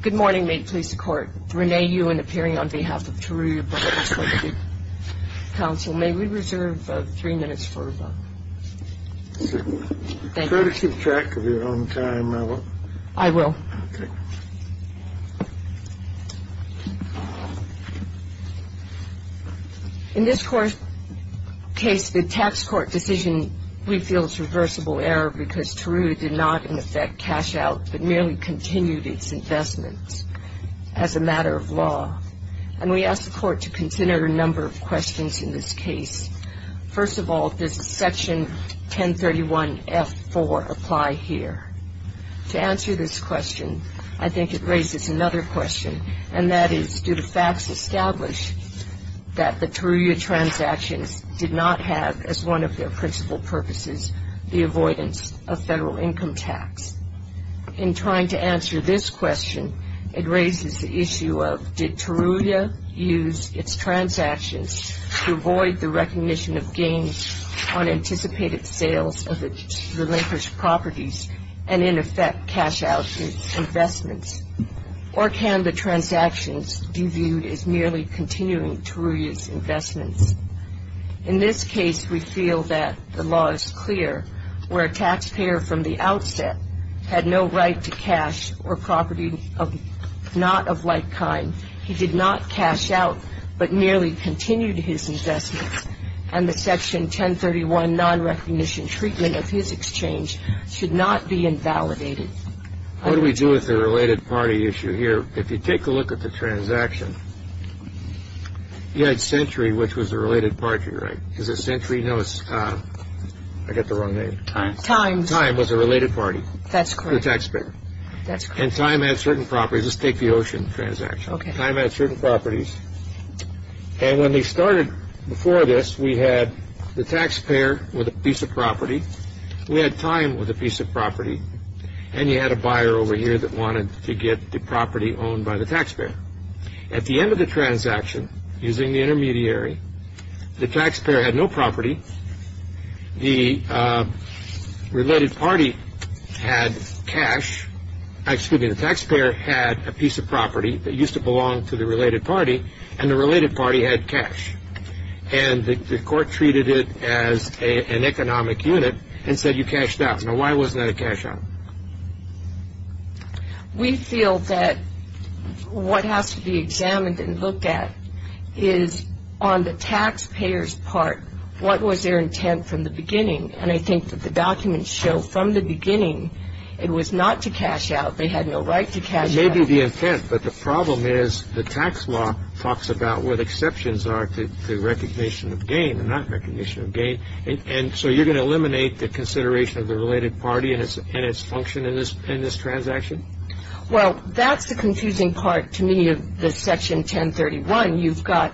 Good morning. May it please the Court, Renee Ewen appearing on behalf of TURUYA BROTHERS, LTD. Counsel, may we reserve three minutes for rebuttal? Try to keep track of your own time, Ella. I will. In this case, the tax court decision, we feel it's reversible error because TURUYA did not, in effect, cash out but merely continued its investments as a matter of law. And we ask the Court to consider a number of questions in this case. First of all, does Section 1031F4 apply here? To answer this question, I think it raises another question, and that is do the facts establish that the TURUYA transactions did not have, as one of their principal purposes, the avoidance of federal income tax? In trying to answer this question, it raises the issue of did TURUYA use its transactions to avoid the recognition of gains on anticipated sales of its relinquished properties and, in effect, cash out its investments? Or can the transactions be viewed as merely continuing TURUYA's investments? In this case, we feel that the law is clear. Where a taxpayer from the outset had no right to cash or property not of like kind, he did not cash out but merely continued his investments, and the Section 1031 nonrecognition treatment of his exchange should not be invalidated. What do we do with the related party issue here? If you take a look at the transaction, you had Century, which was a related party, right? Is it Century? No, it's – I got the wrong name. Time. Time was a related party. That's correct. To the taxpayer. That's correct. And Time had certain properties. Let's take the Ocean transaction. Okay. Time had certain properties, and when they started before this, we had the taxpayer with a piece of property. We had Time with a piece of property, and you had a buyer over here that wanted to get the property owned by the taxpayer. At the end of the transaction, using the intermediary, the taxpayer had no property. The related party had cash. Excuse me. The taxpayer had a piece of property that used to belong to the related party, and the related party had cash, and the court treated it as an economic unit and said you cashed out. Now, why wasn't that a cash out? We feel that what has to be examined and looked at is on the taxpayer's part, what was their intent from the beginning, and I think that the documents show from the beginning it was not to cash out. They had no right to cash out. It may be the intent, but the problem is the tax law talks about what exceptions are to recognition of gain and not recognition of gain, and so you're going to eliminate the consideration of the related party and its function in this transaction? Well, that's the confusing part to me of the Section 1031. You've got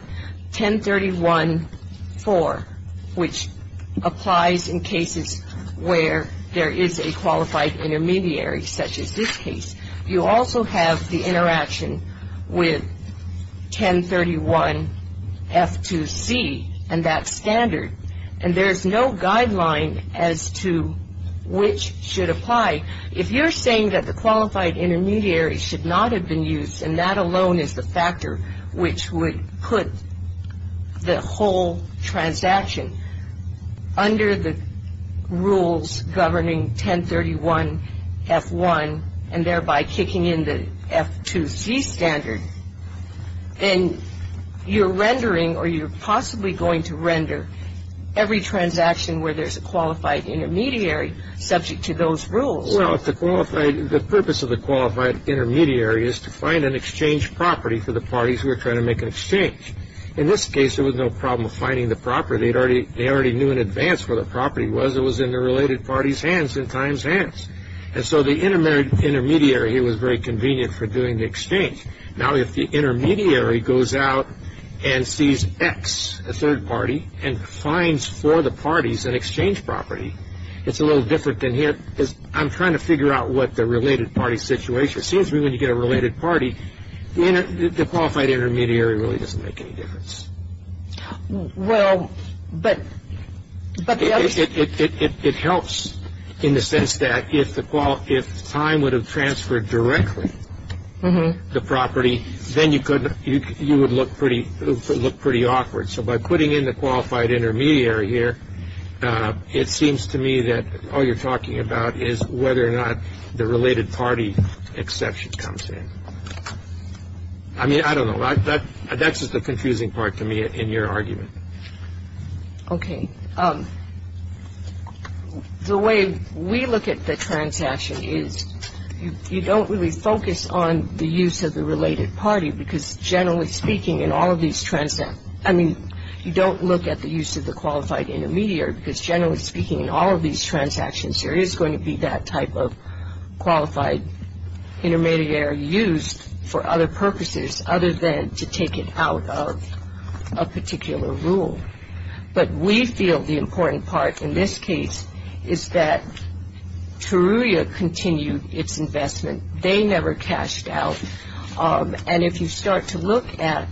1031-4, which applies in cases where there is a qualified intermediary, such as this case. You also have the interaction with 1031-F2C and that standard, and there is no guideline as to which should apply. If you're saying that the qualified intermediary should not have been used and that alone is the factor which would put the whole transaction under the rules governing 1031-F1 and thereby kicking in the F2C standard, then you're rendering or you're possibly going to render every transaction where there's a qualified intermediary subject to those rules. Well, the purpose of the qualified intermediary is to find an exchange property for the parties who are trying to make an exchange. In this case, there was no problem finding the property. They already knew in advance where the property was. It was in the related party's hands, in time's hands, and so the intermediary here was very convenient for doing the exchange. Now, if the intermediary goes out and sees X, a third party, and finds for the parties an exchange property, it's a little different than here. I'm trying to figure out what the related party situation is. It seems to me when you get a related party, the qualified intermediary really doesn't make any difference. Well, but the other... It helps in the sense that if time would have transferred directly the property, then you would look pretty awkward. So by putting in the qualified intermediary here, it seems to me that all you're talking about is whether or not the related party exception comes in. I mean, I don't know. That's just the confusing part to me in your argument. Okay. The way we look at the transaction is you don't really focus on the use of the related party because generally speaking in all of these transactions... I mean, you don't look at the use of the qualified intermediary because generally speaking in all of these transactions, there is going to be that type of qualified intermediary used for other purposes other than to take it out of a particular rule. But we feel the important part in this case is that Teruya continued its investment. They never cashed out. And if you start to look at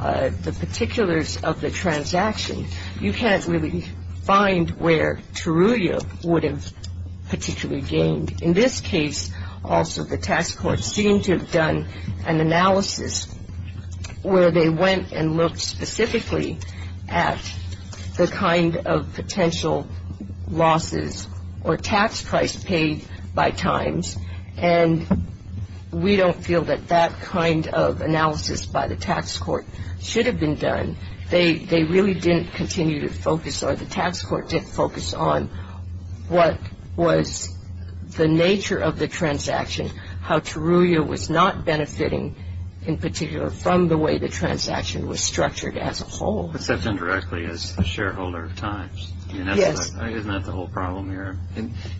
the particulars of the transaction, you can't really find where Teruya would have particularly gained. In this case, also, the tax court seemed to have done an analysis where they went and looked specifically at the kind of potential losses or tax price paid by times. And we don't feel that that kind of analysis by the tax court should have been done. They really didn't continue to focus or the tax court didn't focus on what was the nature of the transaction, how Teruya was not benefiting in particular from the way the transaction was structured as a whole. Except indirectly as a shareholder of times. Yes. Isn't that the whole problem here?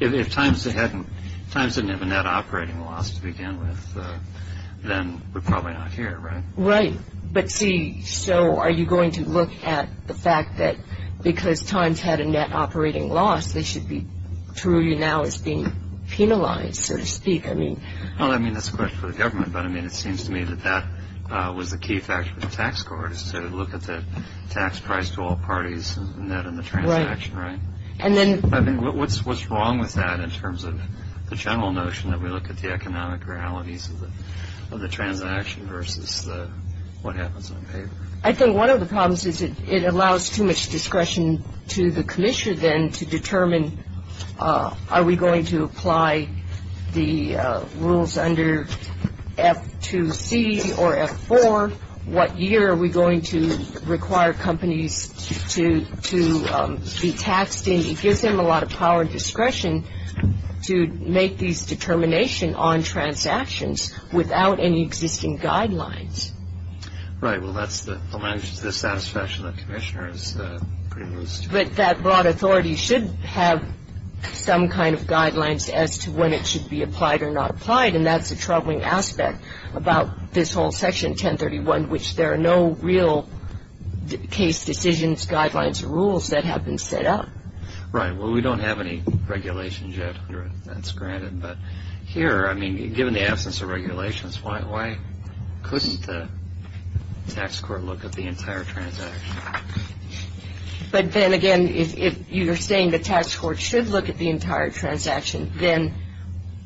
If times didn't have a net operating loss to begin with, then we're probably not here, right? Right. But, see, so are you going to look at the fact that because times had a net operating loss, they should be, Teruya now is being penalized, so to speak. Well, I mean, that's a question for the government. But, I mean, it seems to me that that was the key factor of the tax court, is to look at the tax price to all parties and that in the transaction, right? Right. I mean, what's wrong with that in terms of the general notion that we look at the economic realities of the transaction versus what happens on paper? I think one of the problems is it allows too much discretion to the commissioner then to determine, are we going to apply the rules under F2C or F4? What year are we going to require companies to be taxed in? It gives them a lot of power and discretion to make these determination on transactions without any existing guidelines. Right. Well, that's the satisfaction that the commissioner is privileged to have. But that broad authority should have some kind of guidelines as to when it should be applied or not applied, and that's the troubling aspect about this whole Section 1031, which there are no real case decisions, guidelines, or rules that have been set up. Right. Well, we don't have any regulations yet. That's granted. But here, I mean, given the absence of regulations, why couldn't the tax court look at the entire transaction? But then, again, if you're saying the tax court should look at the entire transaction, then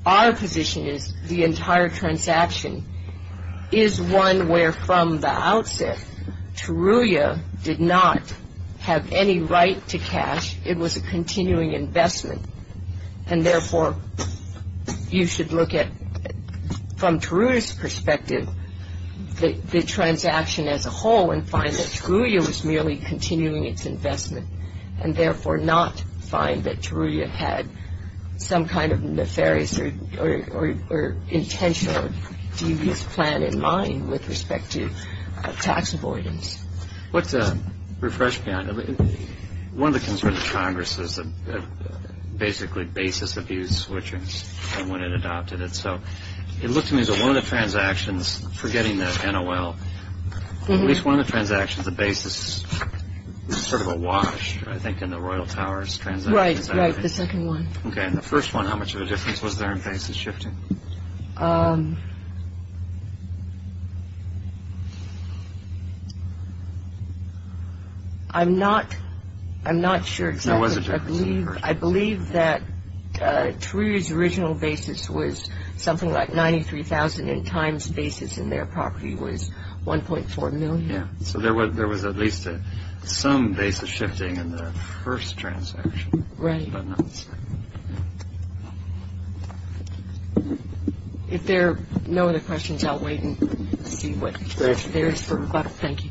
our position is the entire transaction is one where, from the outset, Teruya did not have any right to cash. It was a continuing investment. And, therefore, you should look at, from Teruya's perspective, the transaction as a whole and find that Teruya was merely continuing its investment and, therefore, not find that Teruya had some kind of nefarious or intentional devious plan in mind with respect to tax avoidance. Let's refresh beyond. One of the concerns of Congress is basically basis abuse, which is when it adopted it. So it looked to me as though one of the transactions, forgetting the NOL, at least one of the transactions, the basis was sort of awash, I think, in the Royal Towers transaction. Right, right, the second one. Okay. In the first one, how much of a difference was there in basis shifting? I'm not sure exactly. There was a difference. I believe that Teruya's original basis was something like 93,000 and Time's basis in their property was 1.4 million. So there was at least some basis shifting in the first transaction. Right. I don't have an answer. If there are no other questions, I'll wait and see what there is for rebuttal. Thank you.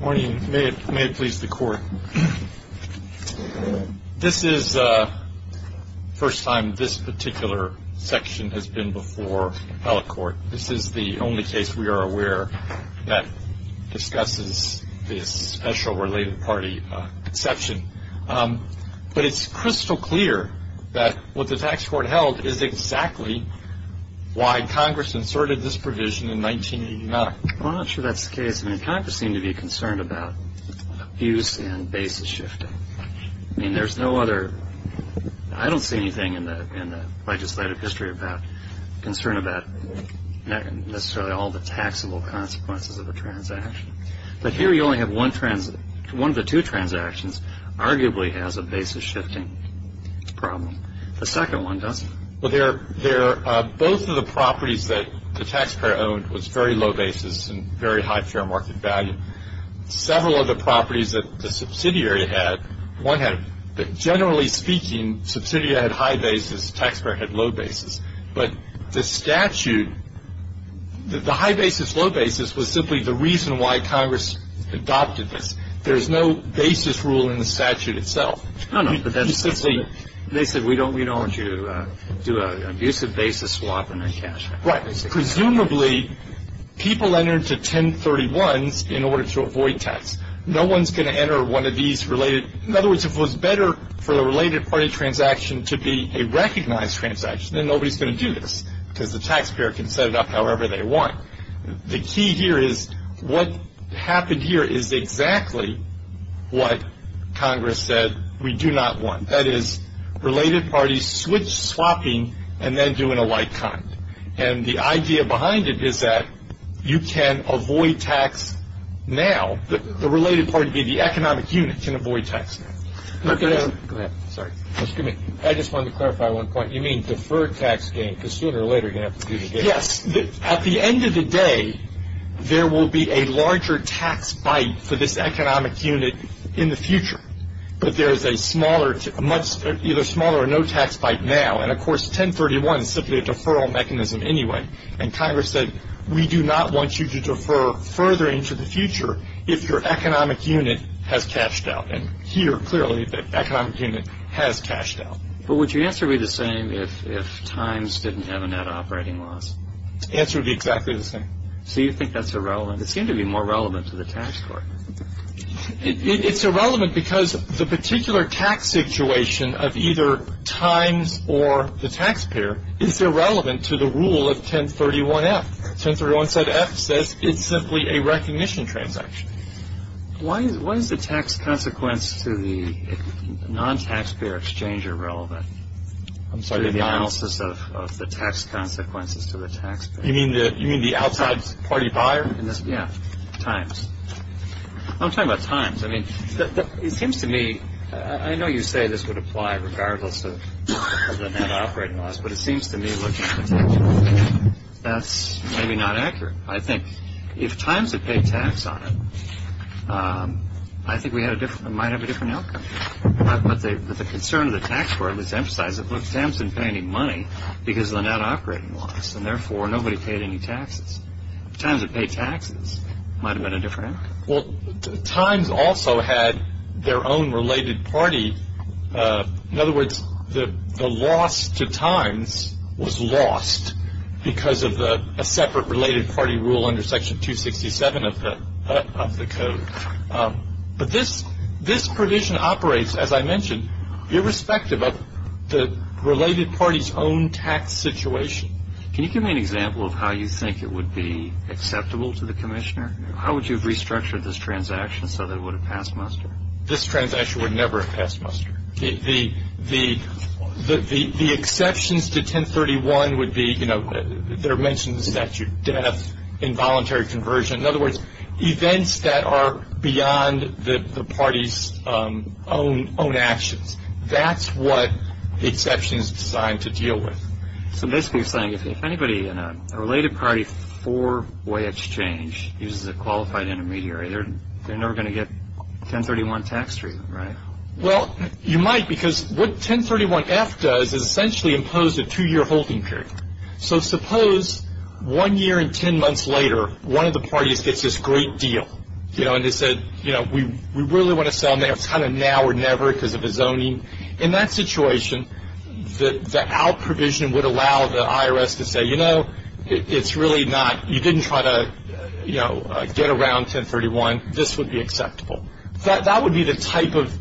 Morning. May it please the Court. This is the first time this particular section has been before held court. This is the only case we are aware that discusses this special related party exception. But it's crystal clear that what the tax court held is exactly why Congress inserted this provision in 1989. Well, I'm not sure that's the case. I mean, Congress seemed to be concerned about abuse and basis shifting. I mean, there's no other. I don't see anything in the legislative history about concern about necessarily all the taxable consequences of a transaction. But here you only have one of the two transactions arguably has a basis shifting problem. The second one doesn't. Well, both of the properties that the taxpayer owned was very low basis and very high fair market value. Several of the properties that the subsidiary had, one had, but generally speaking, subsidiary had high basis, taxpayer had low basis. But the statute, the high basis, low basis was simply the reason why Congress adopted this. There is no basis rule in the statute itself. No, no. They said we don't want you to do an abusive basis swap and then cash out. Right. Presumably, people entered to 1031s in order to avoid tax. No one's going to enter one of these related. In other words, if it was better for the related party transaction to be a recognized transaction, then nobody's going to do this because the taxpayer can set it up however they want. The key here is what happened here is exactly what Congress said we do not want. That is, related parties switch swapping and then do an alike kind. And the idea behind it is that you can avoid tax now. The related party being the economic unit can avoid tax now. Go ahead. Sorry. Excuse me. I just wanted to clarify one point. You mean deferred tax gain because sooner or later you're going to have to do the gain. Yes. At the end of the day, there will be a larger tax bite for this economic unit in the future. But there is a much either smaller or no tax bite now. And, of course, 1031 is simply a deferral mechanism anyway. And Congress said we do not want you to defer further into the future if your economic unit has cashed out. And here, clearly, the economic unit has cashed out. But would your answer be the same if times didn't have a net operating loss? The answer would be exactly the same. So you think that's irrelevant. It seemed to be more relevant to the tax court. It's irrelevant because the particular tax situation of either times or the taxpayer is irrelevant to the rule of 1031-F. 1031-F says it's simply a recognition transaction. Why is the tax consequence to the non-taxpayer exchange irrelevant? I'm sorry. To the analysis of the tax consequences to the taxpayer. You mean the outside party buyer? Yeah, times. I'm talking about times. I mean, it seems to me, I know you say this would apply regardless of the net operating loss. But it seems to me that's maybe not accurate. I think if times had paid tax on it, I think we might have a different outcome. But the concern of the tax court was to emphasize that, look, times didn't pay any money because of the net operating loss. And, therefore, nobody paid any taxes. If times had paid taxes, it might have been a different outcome. Well, times also had their own related party. In other words, the loss to times was lost because of a separate related party rule under Section 267 of the code. But this provision operates, as I mentioned, irrespective of the related party's own tax situation. Can you give me an example of how you think it would be acceptable to the commissioner? How would you have restructured this transaction so that it would have passed muster? This transaction would never have passed muster. The exceptions to 1031 would be, you know, there are mentions of statute of death, involuntary conversion. In other words, events that are beyond the party's own actions. That's what the exception is designed to deal with. So basically you're saying if anybody in a related party four-way exchange uses a qualified intermediary, they're never going to get 1031 tax treatment, right? Well, you might because what 1031-F does is essentially impose a two-year holding period. So suppose one year and ten months later one of the parties gets this great deal, you know, and they said, you know, we really want to sell now or never because of the zoning. In that situation, the out provision would allow the IRS to say, you know, it's really not. You didn't try to, you know, get around 1031. This would be acceptable. That would be the type of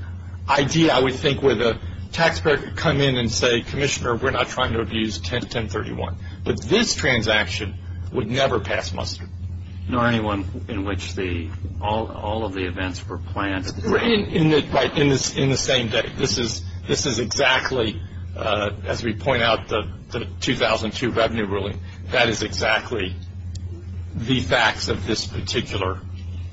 idea I would think where the taxpayer could come in and say, Commissioner, we're not trying to abuse 1031. But this transaction would never pass muster. Nor anyone in which all of the events were planned. Right. In the same day. This is exactly, as we point out, the 2002 revenue ruling. That is exactly the facts of this particular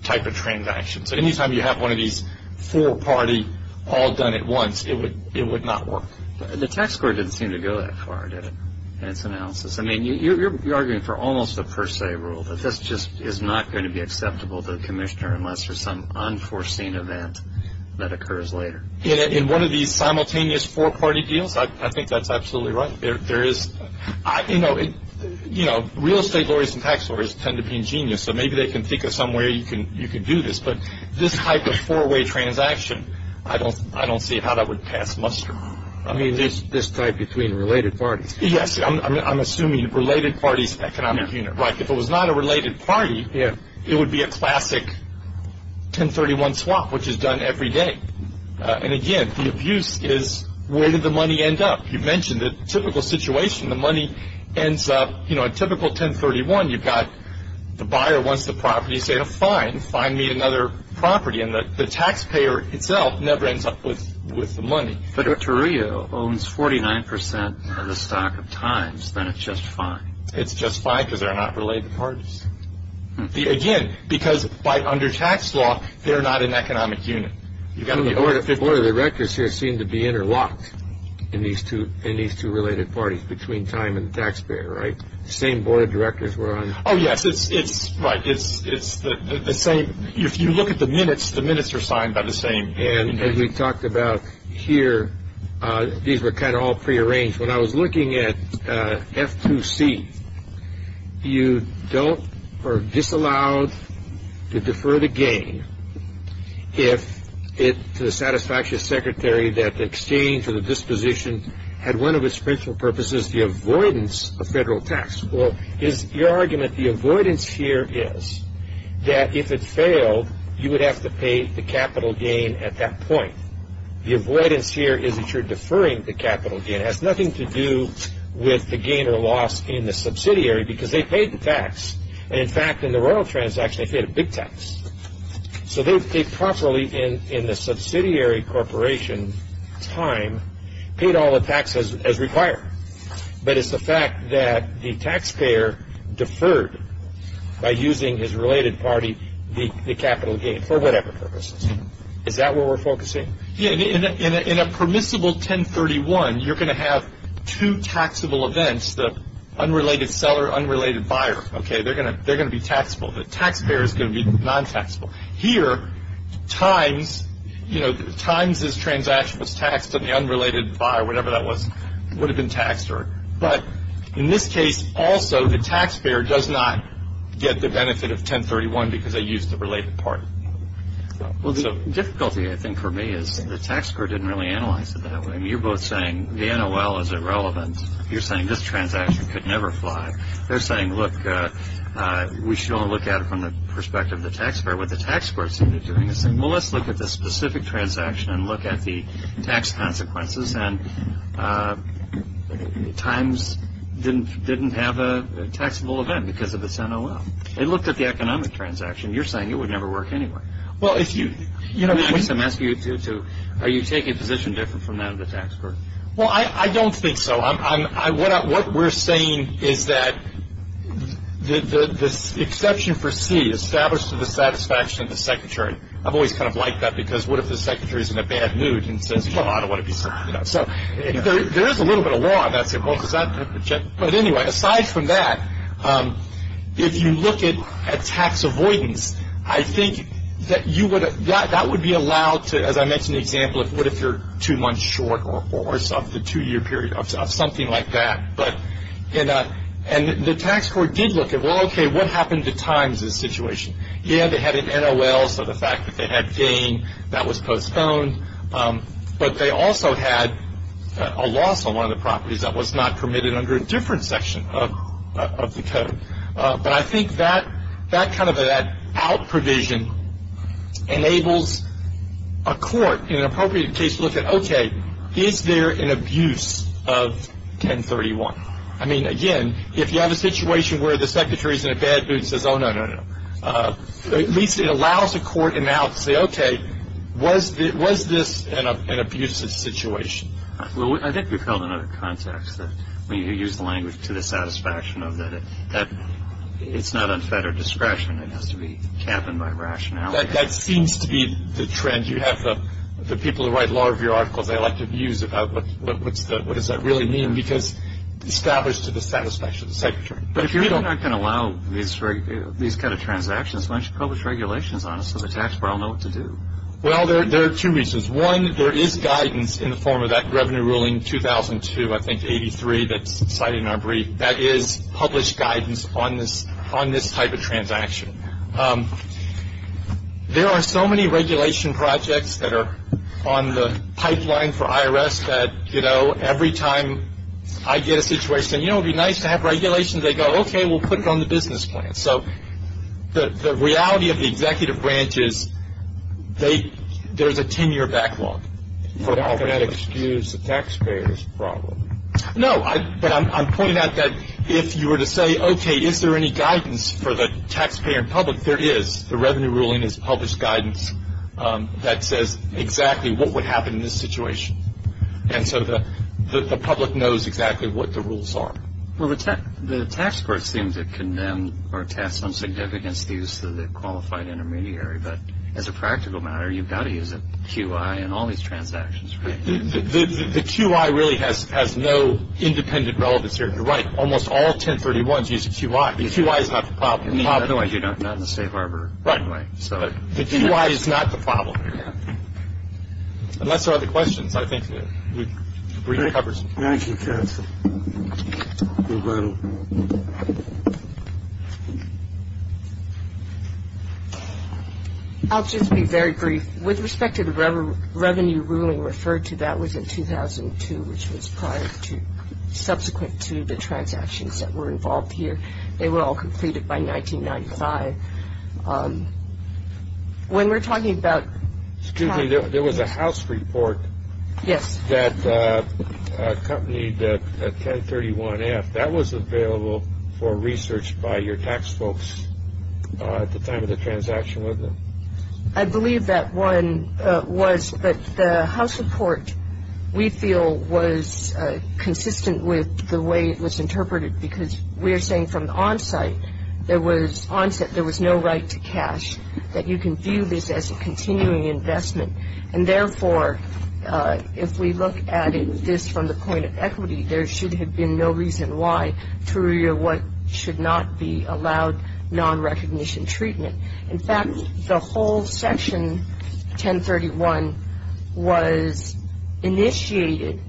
type of transaction. So any time you have one of these four-party all done at once, it would not work. The tax court didn't seem to go that far, did it, in its analysis? I mean, you're arguing for almost a per se rule, but this just is not going to be acceptable to the commissioner unless there's some unforeseen event that occurs later. In one of these simultaneous four-party deals, I think that's absolutely right. There is, you know, real estate lawyers and tax lawyers tend to be ingenious, so maybe they can think of some way you can do this. But this type of four-way transaction, I don't see how that would pass muster. I mean, this type between related parties. Yes. I'm assuming related parties economic unit. Right. If it was not a related party, it would be a classic 1031 swap, which is done every day. And again, the abuse is where did the money end up? You mentioned the typical situation. The money ends up, you know, a typical 1031. You've got the buyer wants the property. You say, oh, fine. Fine, meet another property. And the taxpayer itself never ends up with the money. But if Toreo owns 49% of the stock at times, then it's just fine. It's just fine because they're not related parties. Again, because under tax law, they're not an economic unit. The board of directors here seem to be interlocked in these two related parties, between time and the taxpayer, right? The same board of directors were on. Oh, yes. Right. It's the same. If you look at the minutes, the minutes are signed by the same. And as we talked about here, these were kind of all prearranged. When I was looking at F2C, you don't or are disallowed to defer the gain if it, to the satisfactory secretary, that the exchange or the disposition had one of its principal purposes, the avoidance of federal tax. Well, your argument, the avoidance here is that if it failed, you would have to pay the capital gain at that point. The avoidance here is that you're deferring the capital gain. It has nothing to do with the gain or loss in the subsidiary because they paid the tax. And, in fact, in the royal transaction, they paid a big tax. So they properly, in the subsidiary corporation time, paid all the taxes as required. But it's the fact that the taxpayer deferred by using his related party the capital gain, for whatever purposes. Is that where we're focusing? Yeah. In a permissible 1031, you're going to have two taxable events, the unrelated seller, unrelated buyer. Okay. They're going to be taxable. The taxpayer is going to be non-taxable. Here, times, you know, times this transaction was taxed and the unrelated buyer, whatever that was, would have been taxed. But in this case, also, the taxpayer does not get the benefit of 1031 because they used the related party. Well, the difficulty, I think, for me is the taxpayer didn't really analyze it that way. I mean, you're both saying the NOL is irrelevant. You're saying this transaction could never fly. They're saying, look, we should only look at it from the perspective of the taxpayer. What the taxpayer is doing is saying, well, let's look at the specific transaction and look at the tax consequences. And times didn't have a taxable event because of its NOL. They looked at the economic transaction. You're saying it would never work anyway. Well, if you – I mean, I guess I'm asking you to – are you taking a position different from that of the taxpayer? Well, I don't think so. What we're saying is that this exception for C, established to the satisfaction of the secretary. I've always kind of liked that because what if the secretary is in a bad mood and says, come on, I don't want to be – so there is a little bit of law about it. But anyway, aside from that, if you look at tax avoidance, I think that you would – that would be allowed to – as I mentioned the example of what if you're two months short of the two-year period, of something like that. And the tax court did look at, well, okay, what happened to times in this situation? Yeah, they had an NOL, so the fact that they had gain, that was postponed. But they also had a loss on one of the properties that was not permitted under a different section of the code. But I think that kind of that out provision enables a court in an appropriate case to look at, okay, is there an abuse of 1031? I mean, again, if you have a situation where the secretary is in a bad mood and says, oh, no, no, no, at least it allows a court in the house to say, okay, was this an abusive situation? Well, I think we've held another context that when you use the language to the satisfaction of that, that it's not unfettered discretion. It has to be captained by rationality. That seems to be the trend you have. The people who write law review articles, they like to abuse about what does that really mean, because it's established to the satisfaction of the secretary. But if you're not going to allow these kind of transactions, why don't you publish regulations on it so the taxpayer will know what to do? Well, there are two reasons. One, there is guidance in the form of that revenue ruling 2002, I think, 83, that's cited in our brief. That is published guidance on this type of transaction. There are so many regulation projects that are on the pipeline for IRS that, you know, every time I get a situation, you know, it would be nice to have regulations, they go, okay, we'll put it on the business plan. So the reality of the executive branch is there's a 10-year backlog. You're not going to excuse the taxpayer's problem. No, but I'm pointing out that if you were to say, okay, is there any guidance for the taxpayer and public? There is. The revenue ruling is published guidance that says exactly what would happen in this situation. And so the public knows exactly what the rules are. Well, the tax court seems to condemn or attach some significance to the use of the qualified intermediary. But as a practical matter, you've got to use a QI in all these transactions, right? The QI really has no independent relevance here. You're right. Almost all 1031s use a QI. The QI is not the problem. Otherwise, you're not in the safe harbor. Right. The QI is not the problem. Unless there are other questions, I think that we've covered. Thank you, counsel. We're done. I'll just be very brief. With respect to the revenue ruling referred to, that was in 2002, which was prior to subsequent to the transactions that were involved here. They were all completed by 1995. Excuse me, there was a house report that accompanied 1031-F. That was available for research by your tax folks at the time of the transaction, wasn't it? I believe that one was. But the house report, we feel, was consistent with the way it was interpreted because we're saying from the onsite, there was no right to cash, that you can view this as a continuing investment. And therefore, if we look at this from the point of equity, there should have been no reason why TOURIA should not be allowed non-recognition treatment. In fact, the whole section 1031 was initiated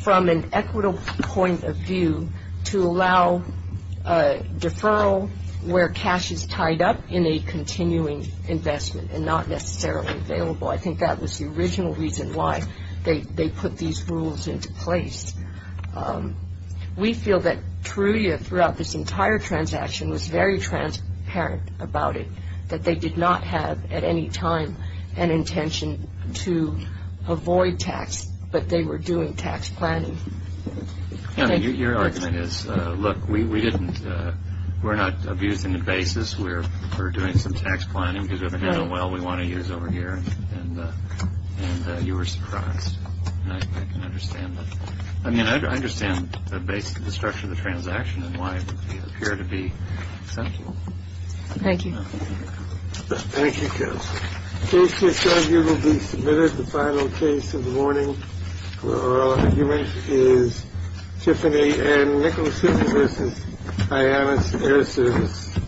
from an equitable point of view to allow deferral where cash is tied up in a continuing investment and not necessarily available. I think that was the original reason why they put these rules into place. We feel that TOURIA throughout this entire transaction was very transparent about it, that they did not have at any time an intention to avoid tax, but they were doing tax planning. Your argument is, look, we're not abusing the basis. We're doing some tax planning because we have an NOL we want to use over here. And you were surprised. I can understand that. I mean, I understand the base of the structure of the transaction and why it would appear to be central. Thank you. Thank you. This will be submitted. The final case of the morning is Tiffany and Nicholas. I have a service.